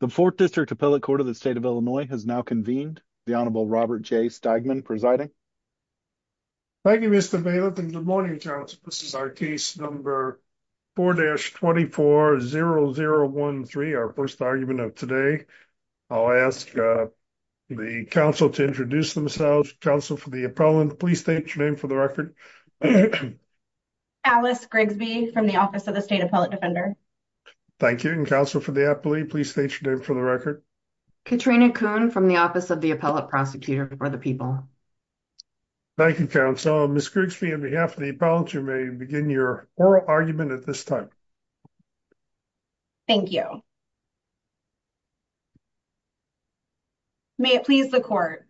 The 4th District Appellate Court of the State of Illinois has now convened. The Honorable Robert J. Steigman presiding. Thank you, Mr. Bailiff, and good morning, Council. This is our case number 4-24-0013, our first argument of today. I'll ask the Council to introduce themselves. Council, for the appellant, please state your name for the record. Alice Grigsby from the Office of the State Appellate Defender Thank you, and Council, for the appellate, please state your name for the record. Katrina Kuhn from the Office of the Appellate Prosecutor for the People Thank you, Council. Ms. Grigsby, on behalf of the appellant, you may begin your oral argument at this time. Thank you. May it please the Court.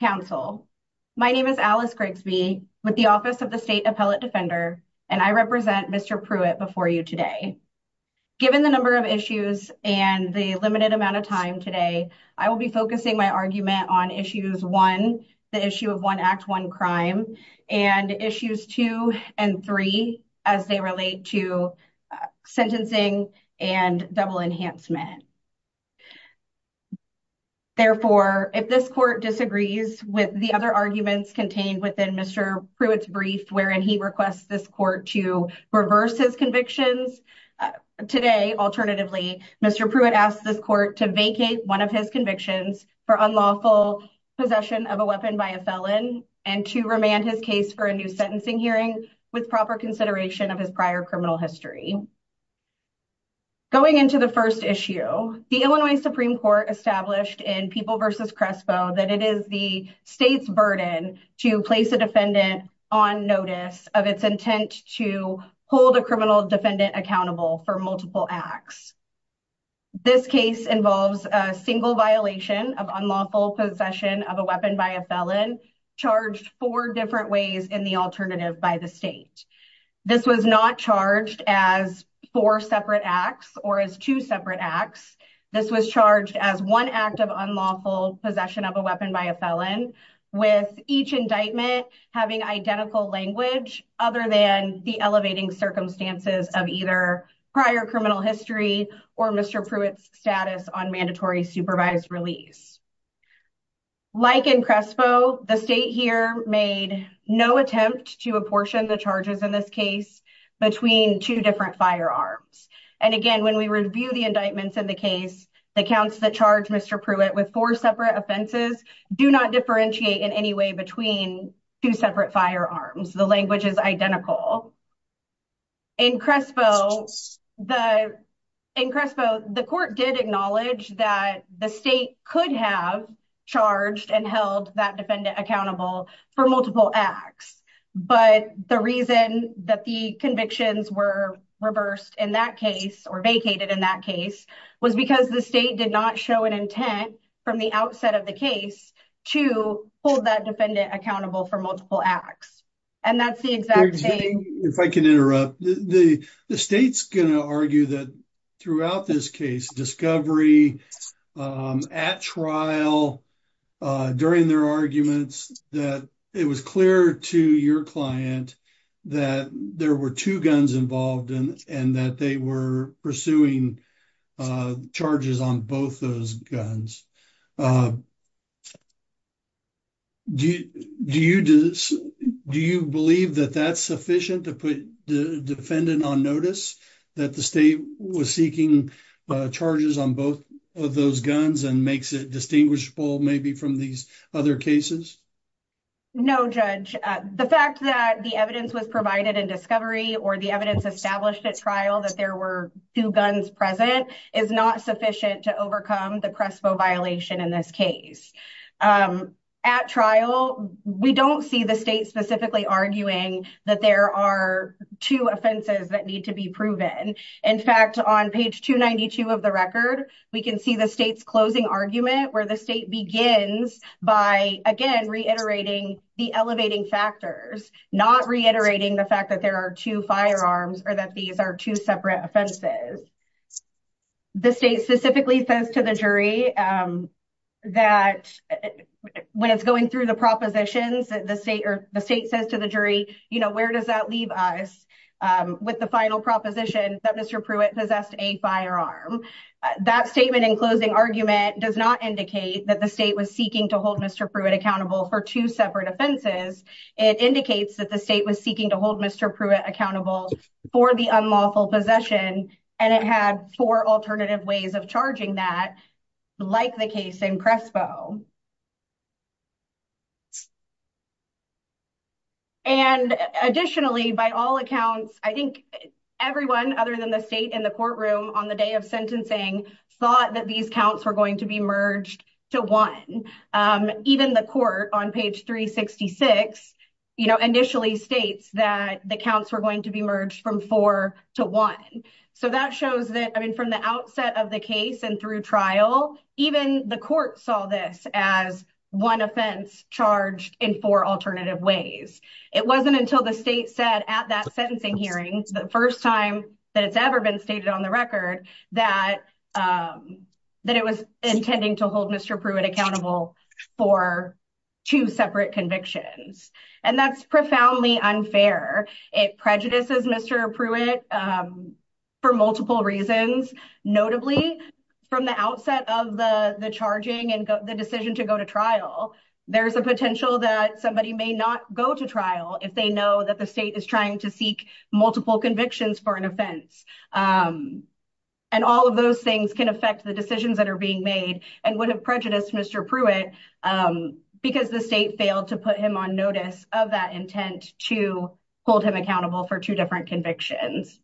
Council, my name is Alice Grigsby with the Office of the State Appellate Defender, and I represent Mr. Pruitt before you today. Given the number of issues and the limited amount of time today, I will be focusing my argument on issues one, the issue of one Act, one crime, and issues two and three, as they relate to sentencing and double enhancement. Therefore, if this Court disagrees with the other arguments contained within Mr. Pruitt's brief, wherein he requests this Court to reverse his convictions, today, alternatively, Mr. Pruitt asks this Court to vacate one of his convictions for unlawful possession of a weapon by a felon, and to remand his case for a new sentencing hearing with proper consideration of his prior criminal history. Going into the first issue, the Illinois Supreme Court established in People v. Crespo that it is the State's burden to place a defendant on notice of its intent to hold a criminal defendant accountable for multiple acts. This case involves a single violation of unlawful possession of a weapon by a felon, charged four different ways in the alternative by the State. This was not charged as four separate acts, or as two separate acts. This was charged as one act of unlawful possession of a weapon by a felon, with each indictment having identical language other than the elevating circumstances of either prior criminal history or Mr. Pruitt's status on mandatory supervised release. Like in Crespo, the State here made no attempt to apportion the charges in this case between two different firearms. And again, when we review the indictments in the case, the counts that charge Mr. Pruitt with four separate offenses, do not differentiate in any way between two separate firearms. The language is identical. In Crespo, the court did acknowledge that the State could have charged and held that defendant accountable for multiple acts. But the reason that the convictions were reversed in that case, or vacated in that case, was because the State did not show an intent from the outset of the case to hold that defendant accountable for multiple acts. And that's the exact same- If I can interrupt, the State's gonna argue that throughout this case, discovery at trial, during their arguments, that it was clear to your client that there were two guns involved and that they were pursuing charges on both those guns. Do you believe that that's sufficient to put the defendant on notice that the State was seeking charges on both of those guns and makes it distinguishable maybe from these other cases? No, Judge. The fact that the evidence was provided in discovery or the evidence established at trial that there were two guns present is not sufficient to overcome the Crespo violation in this case. At trial, we don't see the State specifically arguing that there are two offenses that need to be proven. In fact, on page 292 of the record, we can see the State's closing argument where the State begins by, again, reiterating the elevating factors, not reiterating the fact that there are two firearms or that these are two separate offenses. The State specifically says to the jury that when it's going through the propositions, the State says to the jury, where does that leave us with the final proposition that Mr. Pruitt possessed a firearm? That statement in closing argument does not indicate that the State was seeking to hold Mr. Pruitt accountable for two separate offenses. It indicates that the State was seeking to hold Mr. Pruitt accountable for the unlawful possession and it had four alternative ways of charging that, like the case in Crespo. And additionally, by all accounts, I think everyone other than the State in the courtroom on the day of sentencing thought that these counts were going to be merged to one. Even the court on page 366 initially states that the counts were going to be merged from four to one. So that shows that, I mean, from the outset of the case and through trial, even the court saw this as one offense charged in four alternative ways. It wasn't until the State said at that sentencing hearing, the first time that it's ever been stated on the record, that it was intending to hold Mr. Pruitt accountable for two separate convictions. And that's profoundly unfair. It prejudices Mr. Pruitt for multiple reasons, notably from the outset of the charging and the decision to go to trial, there's a potential that somebody may not go to trial if they know that the State is trying to seek multiple convictions for an offense. And all of those things can affect the decisions that are being made and would have prejudiced Mr. Pruitt because the State failed to put him on notice of that intent to hold him accountable for two different convictions.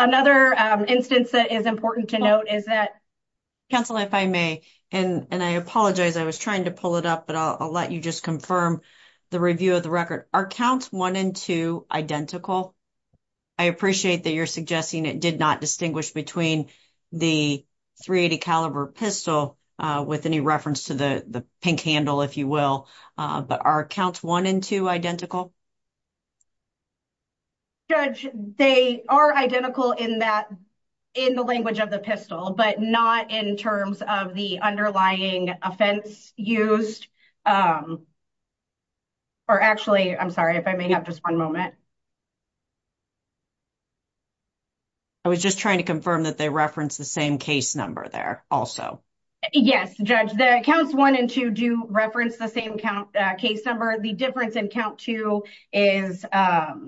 Another instance that is important to note is that- Council, if I may, and I apologize, I was trying to pull it up, but I'll let you just confirm the review of the record. Are counts one and two identical? I appreciate that you're suggesting it did not distinguish between the .380 caliber pistol with any reference to the pink handle, if you will, but are counts one and two identical? Judge, they are identical in the language of the pistol, but not in terms of the underlying offense used. Or actually, I'm sorry, if I may have just one moment. I was just trying to confirm that they referenced the same case number there also. Yes, Judge, the counts one and two do reference the same case number. The difference in count two is, or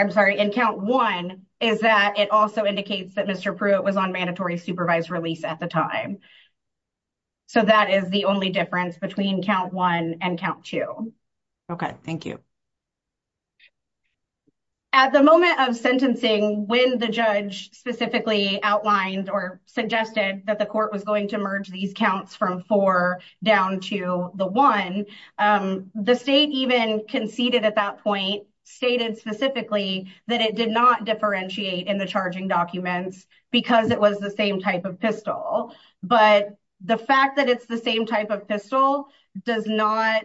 I'm sorry, in count one is that it also indicates that Mr. Pruitt was on mandatory supervised release at the time. So that is the only difference between count one and count two. Okay, thank you. At the moment of sentencing, when the judge specifically outlined or suggested that the court was going to merge these counts from four down to the one, the state even conceded at that point, stated specifically that it did not differentiate in the charging documents because it was the same type of pistol. But the fact that it's the same type of pistol does not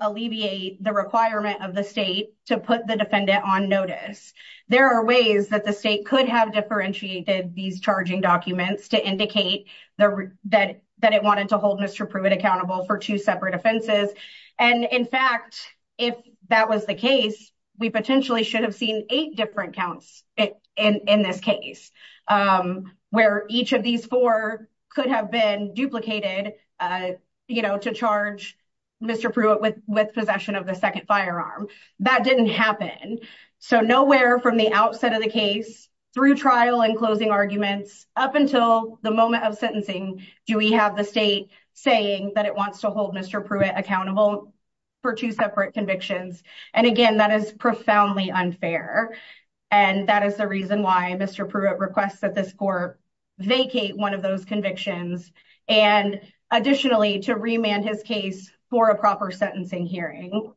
alleviate the requirement of the state to put the defendant on notice. There are ways that the state could have differentiated these charging documents to indicate that it wanted to hold Mr. Pruitt accountable for two separate offenses. And in fact, if that was the case, we potentially should have seen eight different counts in this case, where each of these four could have been duplicated, you know, to charge Mr. Pruitt with possession of the second firearm. That didn't happen. So nowhere from the outset of the case, through trial and closing arguments, up until the moment of sentencing, do we have the state saying that it wants to hold Mr. Pruitt accountable for two separate convictions. And again, that is profoundly unfair. And that is the reason why Mr. Pruitt requests that this court vacate one of those convictions. And additionally, to remand his case for a proper sentencing hearing.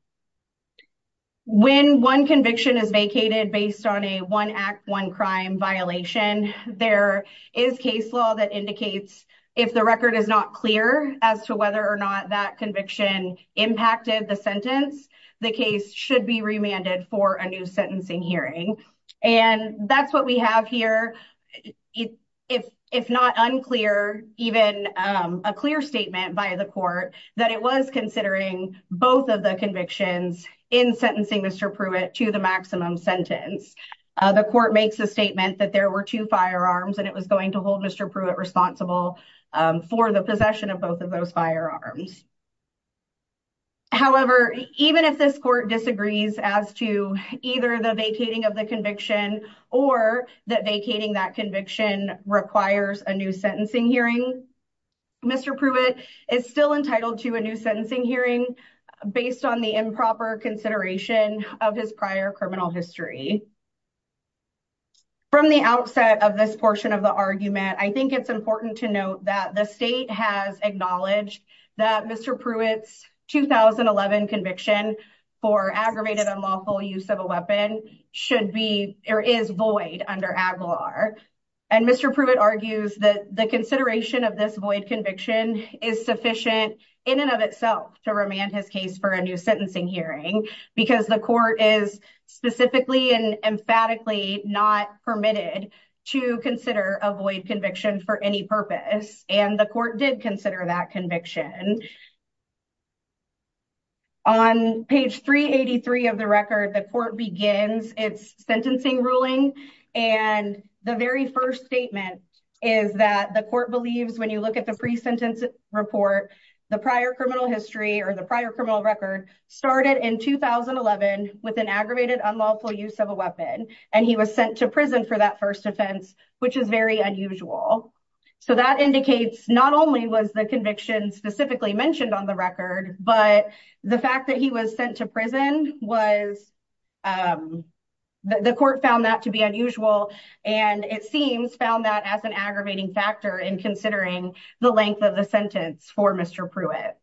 When one conviction is vacated based on a one act, one crime violation, there is case law that indicates if the record is not clear as to whether or not that conviction impacted the sentence, the case should be remanded for a new sentencing hearing. And that's what we have here. If not unclear, even a clear statement by the court that it was considering both of the convictions in sentencing Mr. Pruitt to the maximum sentence, the court makes a statement that there were two firearms and it was going to hold Mr. Pruitt responsible for the possession of both of those firearms. However, even if this court disagrees as to either the vacating of the conviction or that vacating that conviction requires a new sentencing hearing, Mr. Pruitt is still entitled to a new sentencing hearing based on the improper consideration of his prior criminal history. From the outset of this portion of the argument, I think it's important to note that the state has acknowledged that Mr. Pruitt's 2011 conviction for aggravated unlawful use of a weapon should be, or is void under AGLAR. And Mr. Pruitt argues that the consideration of this void conviction is sufficient in and of itself to remand his case for a new sentencing hearing because the court is specifically and emphatically not permitted to consider a void conviction for any purpose. And the court did consider that conviction. On page 383 of the record, the court begins its sentencing ruling. And the very first statement is that the court believes when you look at the pre-sentence report, the prior criminal history or the prior criminal record started in 2011 with an aggravated unlawful use of a weapon and he was sent to prison for that first offense, which is very unusual. So that indicates not only was the conviction specifically mentioned on the record, but the fact that he was sent to prison was, the court found that to be unusual and it seems found that as an aggravating factor in considering the length of the sentence for Mr. Pruitt.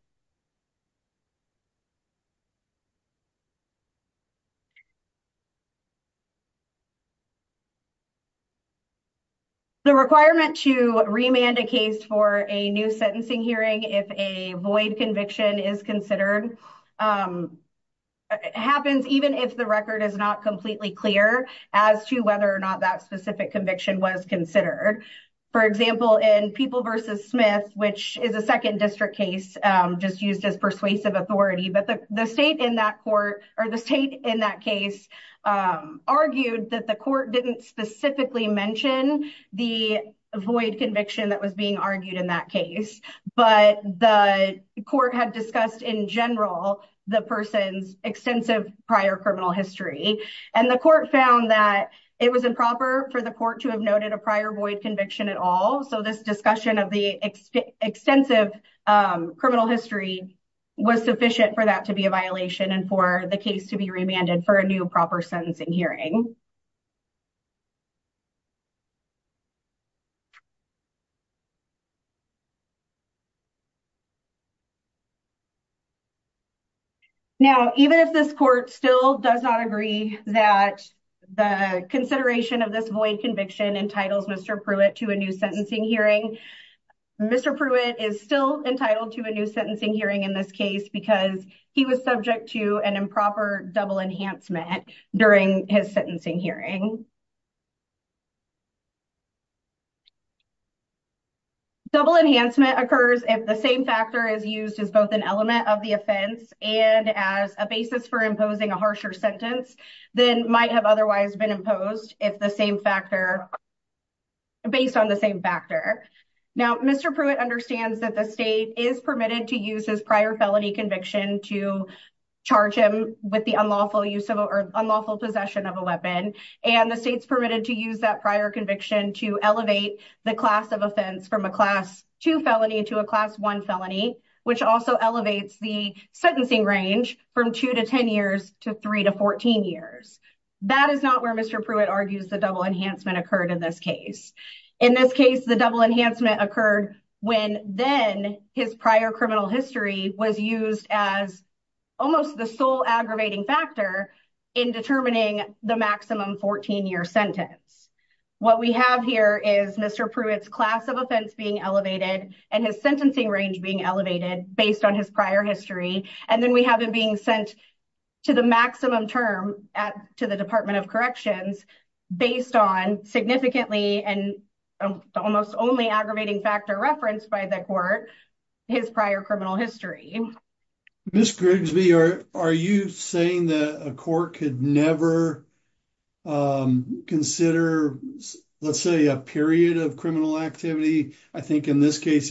The requirement to remand a case for a new sentencing hearing if a void conviction is considered, happens even if the record is not completely clear as to whether or not that specific conviction was considered. For example, in People v. Smith, which is a second district case just used as persuasive authority, but the state in that court, or the state in that case argued that the court didn't specifically mention the void conviction that was being argued in that case, but the court had discussed in general the person's extensive prior criminal history. And the court found that it was improper for the court to have noted a prior void conviction at all. So this discussion of the extensive criminal history was sufficient for that to be a violation and for the case to be remanded for a new proper sentencing hearing. Now, even if this court still does not agree that the consideration of this void conviction entitles Mr. Pruitt to a new sentencing hearing, Mr. Pruitt is still entitled to a new sentencing hearing in this case because he was subject to an improper double enhancement during his sentencing hearing. Double enhancement occurs if the same factor is used as both an element of the offense and as a basis for imposing a harsher sentence than might have otherwise been imposed if the same factor, based on the same factor. Now, Mr. Pruitt understands that the state is permitted to use his prior felony conviction to charge him with the unlawful possession of a weapon. And the state's permitted to use that prior conviction to elevate the class of offense from a class two felony into a class one felony, which also elevates the sentencing range from two to 10 years to three to 14 years. That is not where Mr. Pruitt argues the double enhancement occurred in this case. In this case, the double enhancement occurred when then his prior criminal history was used as almost the sole aggravating factor in determining the maximum 14-year sentence. What we have here is Mr. Pruitt's class of offense being elevated and his sentencing range being elevated based on his prior history. And then we have it being sent to the maximum term to the Department of Corrections based on significantly and almost only aggravating factor referenced by the court, his prior criminal history. Ms. Grigsby, are you saying that a court could never consider, let's say, a period of criminal activity? I think in this case,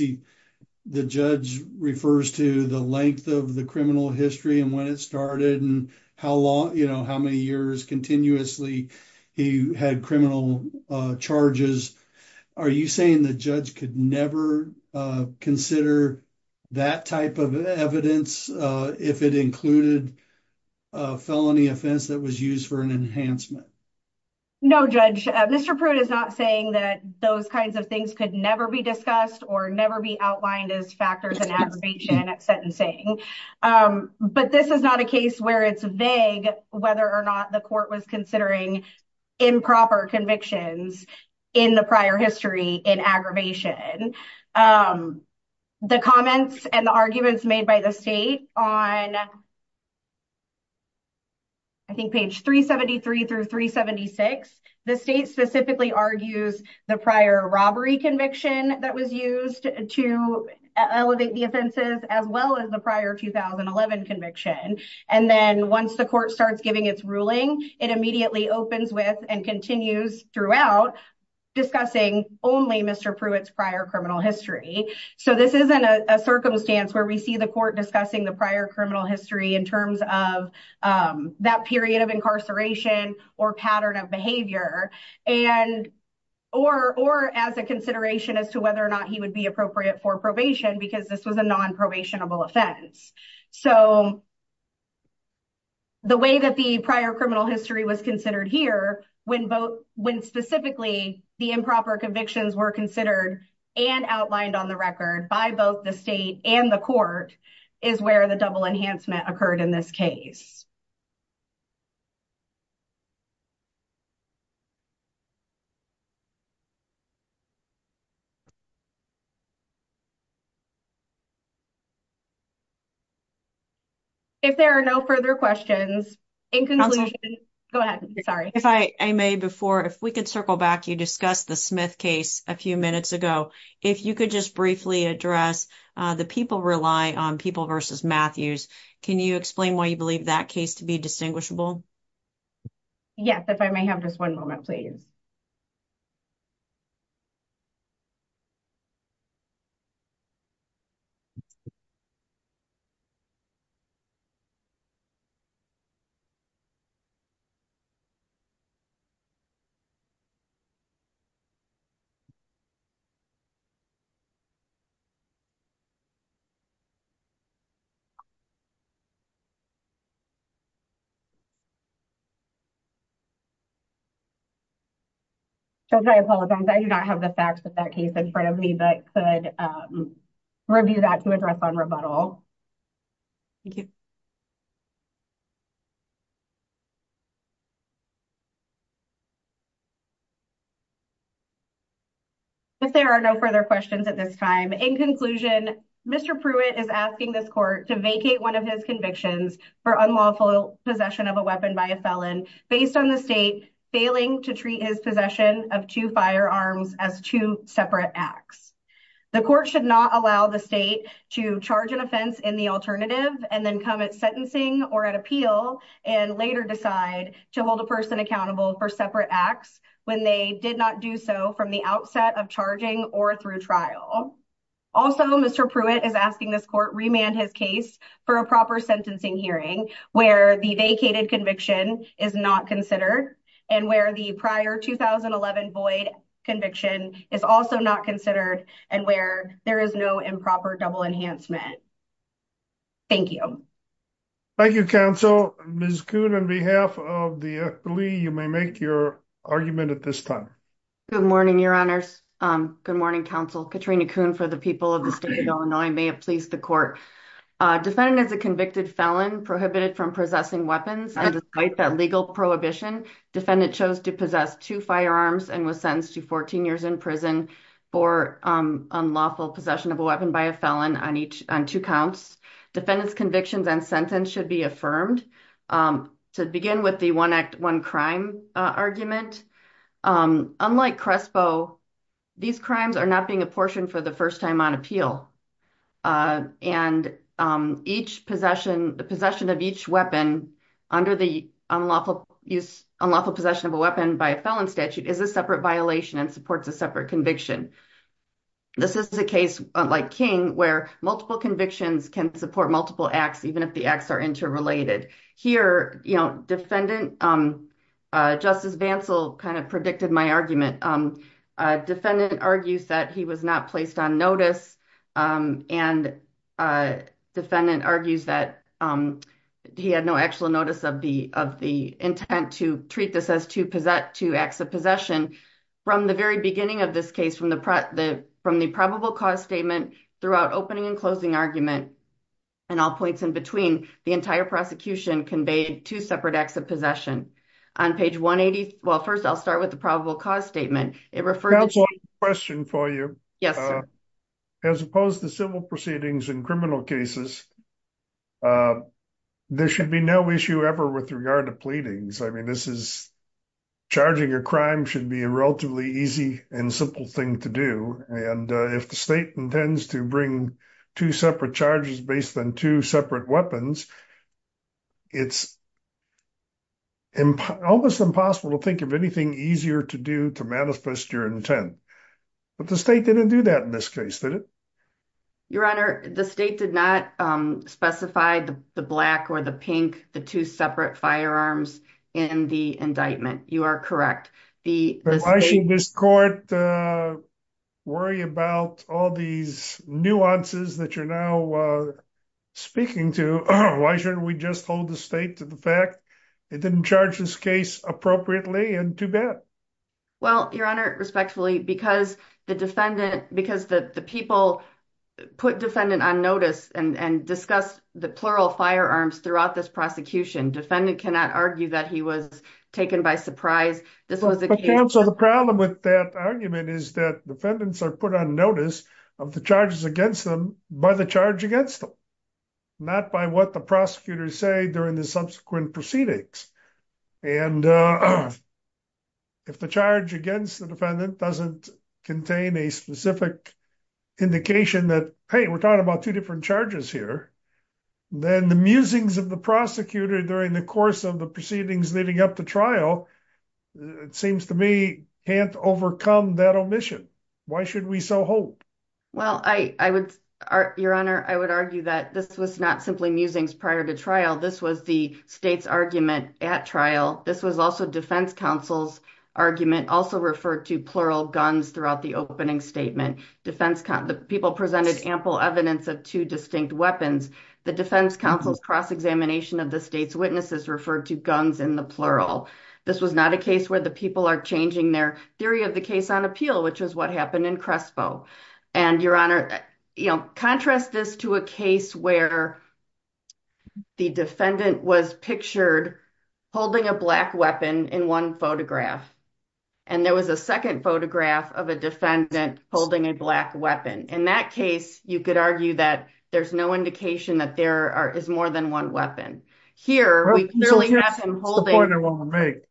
the judge refers to the length of the criminal history and when it started and how many years continuously he had criminal charges. Are you saying the judge could never consider that type of evidence if it included a felony offense that was used for an enhancement? No, Judge. Mr. Pruitt is not saying that those kinds of things could never be discussed or never be outlined as factors in aggravation at sentencing. But this is not a case where it's vague whether or not the court was considering improper convictions in the prior history in aggravation. The comments and the arguments made by the state on, I think, page 373 through 376, the state specifically argues the prior robbery conviction that was used to elevate the offenses as well as the prior 2011 conviction. And then once the court starts giving its ruling, it immediately opens with and continues throughout discussing only Mr. Pruitt's prior criminal history. So this isn't a circumstance where we see the court discussing the prior criminal history in terms of that period of incarceration or pattern of behavior or as a consideration as to whether or not he would be appropriate for probation because this was a non-probationable offense. So the way that the prior criminal history was considered here when specifically the improper convictions were considered and outlined on the record by both the state and the court is where the double enhancement occurred in this case. If there are no further questions, in conclusion, go ahead, sorry. If I may before, if we could circle back, you discussed the Smith case a few minutes ago. If you could just briefly address the people rely on people versus Matthews, can you explain why you believe that case to be distinguishable? Yes, if I may have just one moment, please. I do not have the facts of that case in front of me, but could review that to address on rebuttal. Thank you. If there are no further questions at this time, in conclusion, Mr. Pruitt is asking this court to vacate one of his convictions for unlawful possession of a weapon by a felon based on the state failing to treat his possession of two firearms as two separate acts. The court should not allow the state to charge an offense in the alternative and then come at sentencing or at appeal and later decide to hold a person accountable for separate acts when they did not do so from the outset of charging or through trial. Also, Mr. Pruitt is asking this court remand his case for a proper sentencing hearing where the vacated conviction is not considered and where the prior 2011 void conviction is also not considered and where there is no improper double enhancement. Thank you. Thank you, counsel. Ms. Kuhn, on behalf of the FLE, you may make your argument at this time. Good morning, your honors. Good morning, counsel. Katrina Kuhn for the people of the state of Illinois. May it please the court. Defendant is a convicted felon prohibited from possessing weapons and despite that legal prohibition, defendant chose to possess two firearms and was sentenced to 14 years in prison for unlawful possession of a weapon by a felon on two counts. Defendant's convictions and sentence should be affirmed. To begin with the one act, one crime argument, unlike Crespo, these crimes are not being apportioned for the first time on appeal. And the possession of each weapon under the unlawful possession of a weapon by a felon statute is a separate violation and supports a separate conviction. This is a case like King where multiple convictions can support multiple acts even if the acts are interrelated. Here, defendant, Justice Bantzl kind of predicted my argument defendant argues that he was not placed on notice and defendant argues that he had no actual notice of the intent to treat this as two acts of possession. From the very beginning of this case, from the probable cause statement throughout opening and closing argument and all points in between, the entire prosecution conveyed two separate acts of possession. On page 180, well, first I'll start with the probable cause statement. It refers- I have a question for you. Yes, sir. As opposed to civil proceedings in criminal cases, there should be no issue ever with regard to pleadings. I mean, this is, charging a crime should be a relatively easy and simple thing to do. And if the state intends to bring two separate charges based on two separate weapons, it's almost impossible to think of anything easier to do to manifest your intent. But the state didn't do that in this case, did it? Your Honor, the state did not specify the black or the pink, the two separate firearms in the indictment. You are correct. The state- I mean, why should we worry about all these nuances that you're now speaking to? Why shouldn't we just hold the state to the fact it didn't charge this case appropriately and too bad? Well, Your Honor, respectfully, because the defendant, because the people put defendant on notice and discussed the plural firearms throughout this prosecution, defendant cannot argue that he was taken by surprise. This was a case- But counsel, the problem with that argument is that defendants are put on notice of the charges against them by the charge against them, not by what the prosecutors say during the subsequent proceedings. And if the charge against the defendant doesn't contain a specific indication that, hey, we're talking about two different charges here, then the musings of the prosecutor during the course of the proceedings leading up to trial, it seems to me, can't overcome that omission. Why should we so hope? Well, I would, Your Honor, I would argue that this was not simply musings prior to trial. This was the state's argument at trial. This was also defense counsel's argument, also referred to plural guns throughout the opening statement. Defense counsel, the people presented ample evidence of two distinct weapons. The defense counsel's cross-examination of the state's witnesses referred to guns in the plural. This was not a case where the people are changing their theory of the case on appeal, which is what happened in Crespo. And, Your Honor, contrast this to a case where the defendant was pictured holding a black weapon in one photograph. And there was a second photograph of a defendant holding a black weapon. In that case, you could argue that there's no indication that there is more than one weapon. Here, we clearly have him holding- That's the point I wanted to make.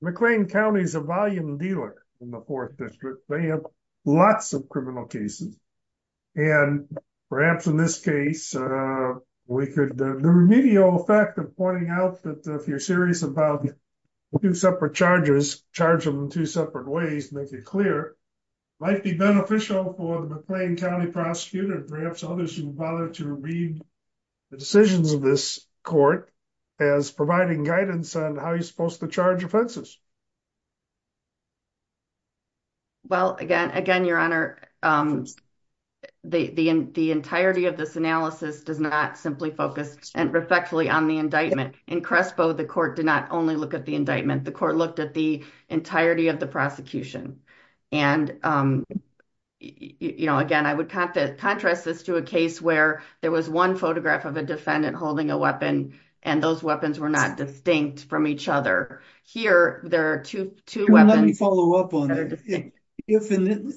McLean County is a volume dealer in the Fourth District. They have lots of criminal cases. And perhaps in this case, we could, the remedial effect of pointing out that if you're serious about two separate charges, charge them in two separate ways, make it clear, might be beneficial for the McLean County prosecutor, perhaps others who would bother to read the decisions of this court as providing guidance on how you're supposed to charge offenses. Well, again, Your Honor, the entirety of this analysis does not simply focus respectfully on the indictment. In Crespo, the court did not only look at the indictment. The court looked at the entirety of the prosecution. And, again, I would contrast this to a case where there was one photograph of a defendant holding a weapon, and those weapons were not distinct from each other. Here, there are two weapons- Let me follow up on that. In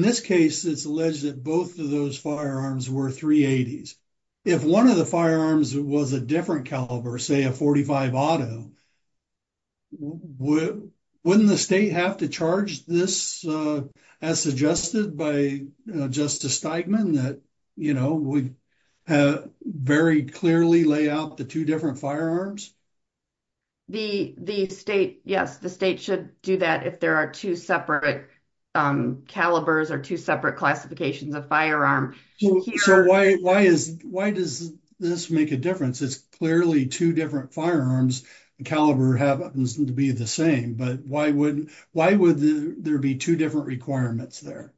this case, it's alleged that both of those firearms were .380s. If one of the firearms was a different caliber, say a .45 auto, wouldn't the state have to charge this as suggested by Justice Steigman, that we very clearly lay out the two different firearms? Yes, the state should do that if there are two separate calibers or two separate classifications of firearm. So why does this make a difference? It's clearly two different firearms. The caliber happens to be the same, but why would there be two different requirements there?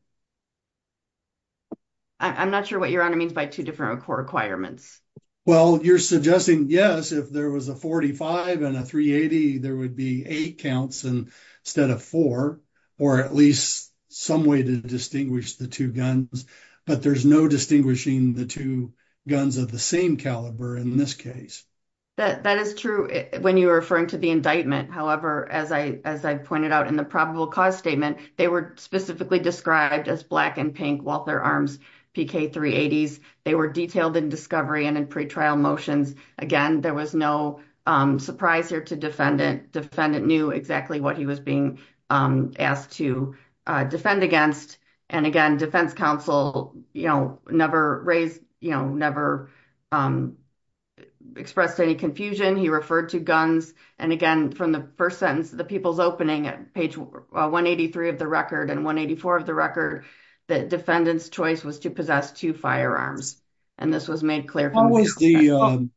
I'm not sure what Your Honor means by two different requirements. Well, you're suggesting, yes, if there was a .45 and a .380, there would be eight counts instead of four, or at least some way to distinguish the two guns. But there's no distinguishing the two guns of the same caliber in this case. That is true when you were referring to the indictment. However, as I pointed out in the probable cause statement, they were specifically described as black and pink Walther Arms PK 380s. They were detailed in discovery and in pretrial motions. Again, there was no surprise here to defendant. Defendant knew exactly what he was being asked to defend against. And again, defense counsel never raised, never expressed any confusion. He referred to guns. And again, from the first sentence, the people's opening at page 183 of the record and 184 of the record, the defendant's choice was to possess two firearms. And this was made clear- How was the,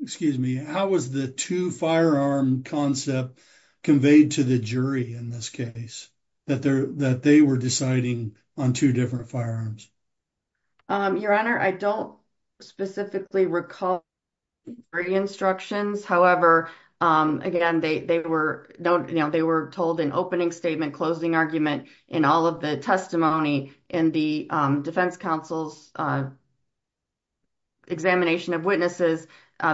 excuse me, how was the two firearm concept conveyed to the jury in this case, that they were deciding on two different firearms? Your Honor, I don't specifically recall the instructions. However, again, they were told in opening statement, closing argument, in all of the testimony, in the defense counsel's examination of witnesses,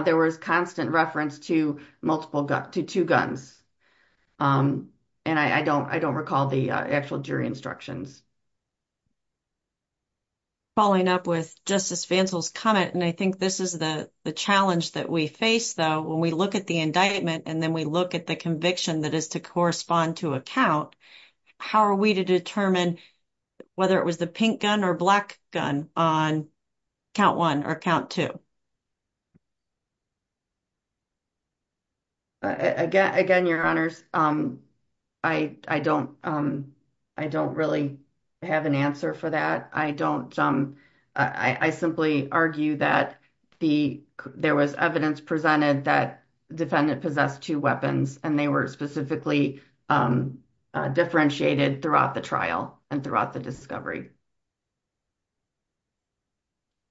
there was constant reference to multiple guns, to two guns. And I don't recall the actual jury instructions. Following up with Justice Fancel's comment, and I think this is the challenge that we face though, when we look at the indictment and then we look at the conviction that is to correspond to a count, how are we to determine whether it was the pink gun or black gun on count one or count two? Again, Your Honors, I don't really have an answer for that. I don't, I simply argue that there was evidence presented that defendant possessed two weapons and they were specifically differentiated throughout the trial and throughout the discovery.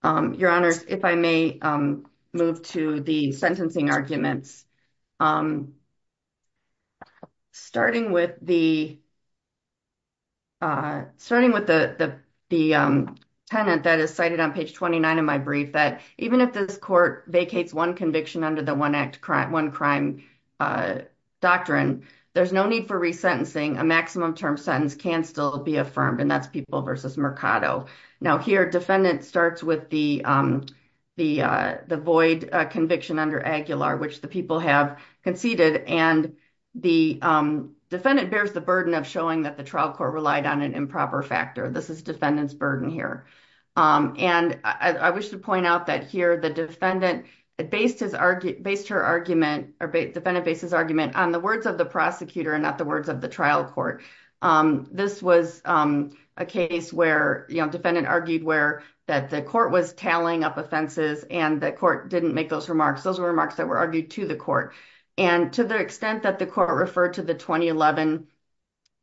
Your Honors, if I may move to the sentencing arguments. Starting with the, starting with the tenant that is cited on page 29 of my brief, that even if this court vacates one conviction under the one crime doctrine, there's no need for resentencing. A maximum term sentence can still be affirmed and that's People v. Mercado. Now here, defendant starts with the void conviction under Aguilar, which the people have conceded. And the defendant bears the burden of showing that the trial court relied on an improper factor. This is defendant's burden here. And I wish to point out that here, the defendant based her argument, or defendant based his argument on the words of the prosecutor and not the words of the trial court. This was a case where, defendant argued where, that the court was tallying up offenses and the court didn't make those remarks. Those were remarks that were argued to the court. And to the extent that the court referred to the 2011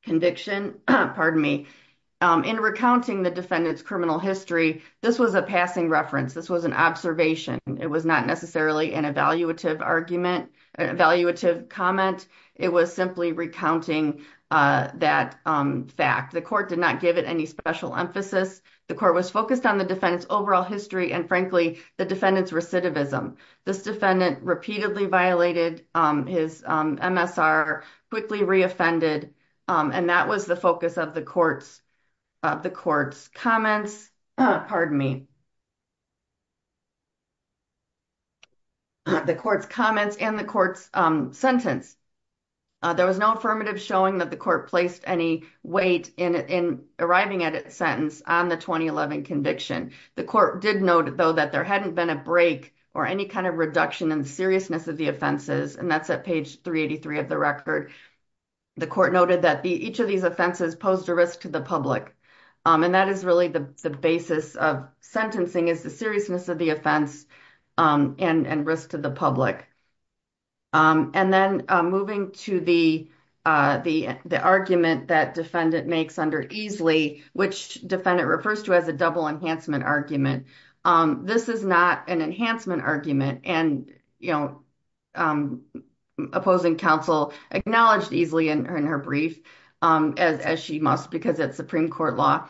conviction, pardon me, in recounting the defendant's criminal history, this was a passing reference. This was an observation. It was not necessarily an evaluative argument, an evaluative comment. It was simply recounting that fact. The court did not give it any special emphasis. The court was focused on the defendant's overall history and frankly, the defendant's recidivism. This defendant repeatedly violated his MSR, quickly re-offended, and that was the focus of the court's comments. Pardon me. The court's comments and the court's sentence. There was no affirmative showing that the court placed any weight in arriving at a sentence on the 2011 conviction. The court did note though, that there hadn't been a break or any kind of reduction in seriousness of the offenses. And that's at page 383 of the record. The court noted that each of these offenses posed a risk to the public. And that is really the basis of sentencing is the seriousness of the offense and risk to the public. And then moving to the argument that defendant makes under EASLY, which defendant refers to as a double enhancement argument. This is not an enhancement argument and opposing counsel acknowledged EASLY in her brief as she must because it's Supreme Court law.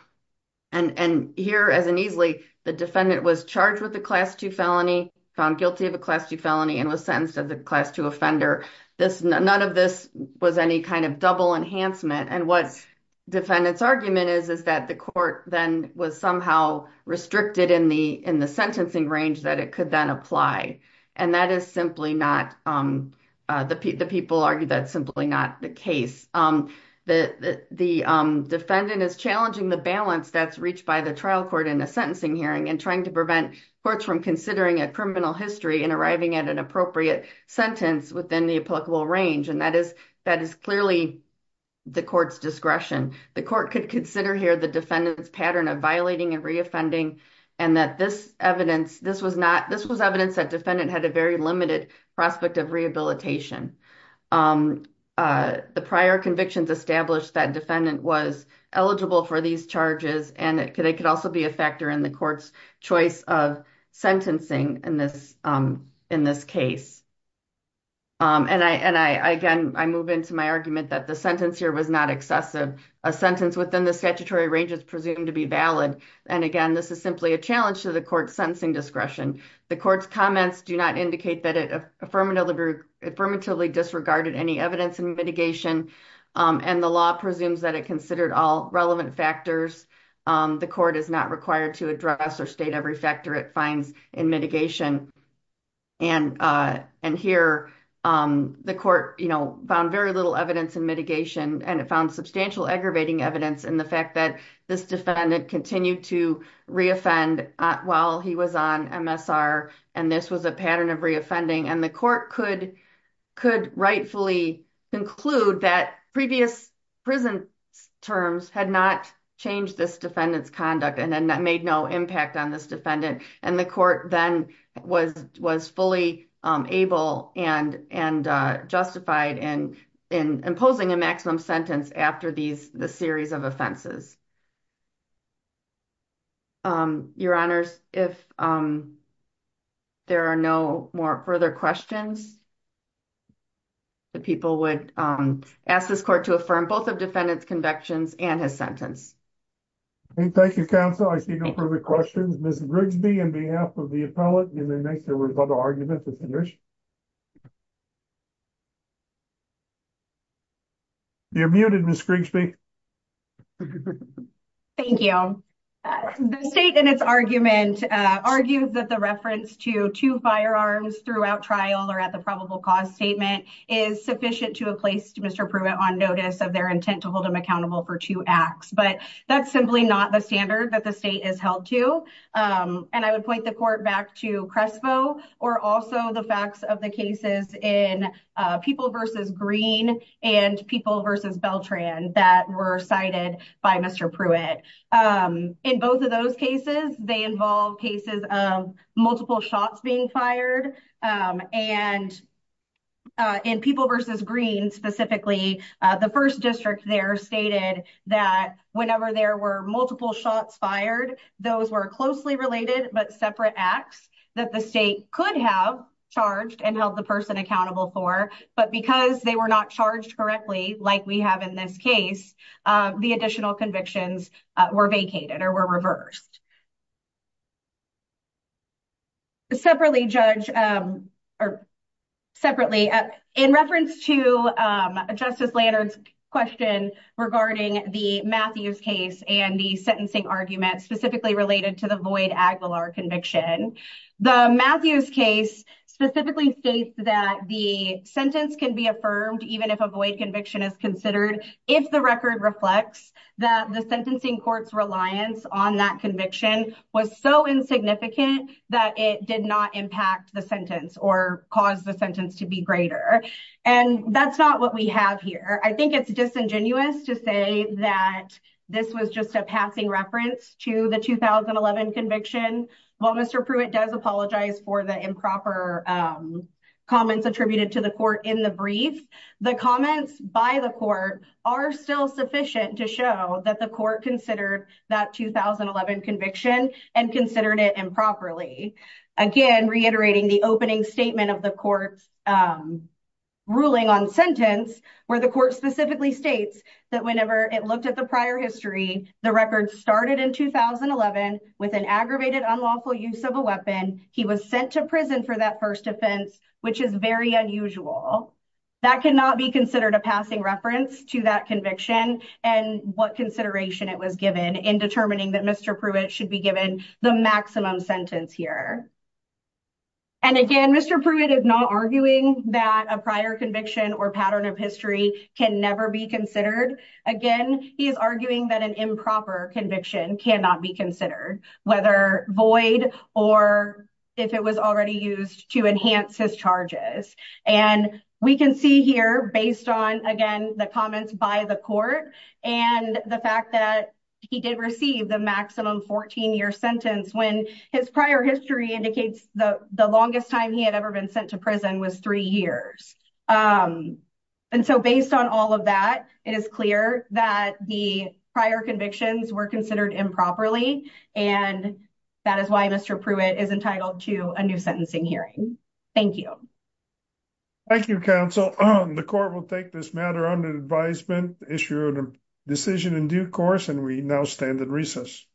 And here as an EASLY, the defendant was charged with a class two felony, found guilty of a class two felony and was sentenced as a class two offender. None of this was any kind of double enhancement. And what's defendant's argument is, is that the court then was somehow restricted in the sentencing range that it could then apply. And that is simply not the people argue that's simply not the case. The defendant is challenging the balance that's reached by the trial court in a sentencing hearing and trying to prevent courts from considering a criminal history and arriving at an appropriate sentence within the applicable range. And that is clearly the court's discretion. The court could consider here the defendant's pattern of violating and re-offending. And that this evidence, this was evidence that defendant had a very limited prospect of rehabilitation. The prior convictions established that defendant was eligible for these charges. And it could also be a factor in the court's choice of sentencing in this case. And I, again, I move into my argument that the sentence here was not excessive. A sentence within the statutory range is presumed to be valid. And again, this is simply a challenge to the court's sentencing discretion. The court's comments do not indicate that it affirmatively disregarded any evidence and mitigation. And the law presumes that it considered all relevant factors. The court is not required to address or state every factor it finds in mitigation. And here the court, you know, found very little evidence in mitigation and it found substantial aggravating evidence in the fact that this defendant continued to re-offend while he was on MSR. And this was a pattern of re-offending. And the court could rightfully conclude that previous prison terms had not changed this defendant's conduct and then that made no impact on this defendant. And the court then was fully able and justified in imposing a maximum sentence after these, the series of offenses. Your honors, if there are no more further questions the people would ask this court to affirm both of defendant's convictions and his sentence. Thank you, counsel. I see no further questions. Ms. Grigsby on behalf of the appellate and then next there was another argument to finish. You're muted Ms. Grigsby. Thank you. The state in its argument argued that the reference to two firearms throughout trial or at the probable cause statement is sufficient to a place to Mr. Pruitt on notice of their intent to hold him accountable for two acts. But that's simply not the standard that the state is held to. And I would point the court back to Crespo or also the facts of the cases in People v. Green and People v. Beltran that were cited by Mr. Pruitt. In both of those cases, they involve cases of multiple shots being fired and in People v. Green specifically, the first district there stated that whenever there were multiple shots fired, those were closely related, but separate acts that the state could have charged and held the person accountable for, but because they were not charged correctly like we have in this case, the additional convictions were vacated or were reversed. Separately, Judge, or separately, in reference to Justice Lannard's question regarding the Matthews case and the sentencing argument specifically related to the Voight-Aguilar conviction, the Matthews case specifically states that the sentence can be affirmed even if a Voight conviction is considered if the record reflects that the sentencing court's reliance on that conviction is not true. So the Matthews case, as the Voight-Aguilar conviction was so insignificant that it did not impact the sentence or cause the sentence to be greater. And that's not what we have here. I think it's disingenuous to say that this was just a passing reference to the 2011 conviction. While Mr. Pruitt does apologize for the improper comments attributed to the court in the brief, the comments by the court are still sufficient to show that the court considered that 2011 conviction and considered it improperly. Again, reiterating the opening statement of the court's ruling on sentence, where the court specifically states that whenever it looked at the prior history, the record started in 2011 with an aggravated unlawful use of a weapon. He was sent to prison for that first offense, which is very unusual. That cannot be considered a passing reference to that conviction and what consideration it was given in determining that Mr. Pruitt should be given the maximum sentence here. And again, Mr. Pruitt is not arguing that a prior conviction or pattern of history can never be considered. Again, he is arguing that an improper conviction cannot be considered, whether void or if it was already used to enhance his charges. And we can see here based on, again, the comments by the court and the fact that he did receive the maximum 14-year sentence when his prior history indicates the longest time he had ever been sent to prison was three years. And so based on all of that, it is clear that the prior convictions were considered improperly, and that is why Mr. Pruitt is entitled to a new sentencing hearing. Thank you. Thank you, counsel. The court will take this matter under advisement, issue a decision in due course, and we now stand at recess.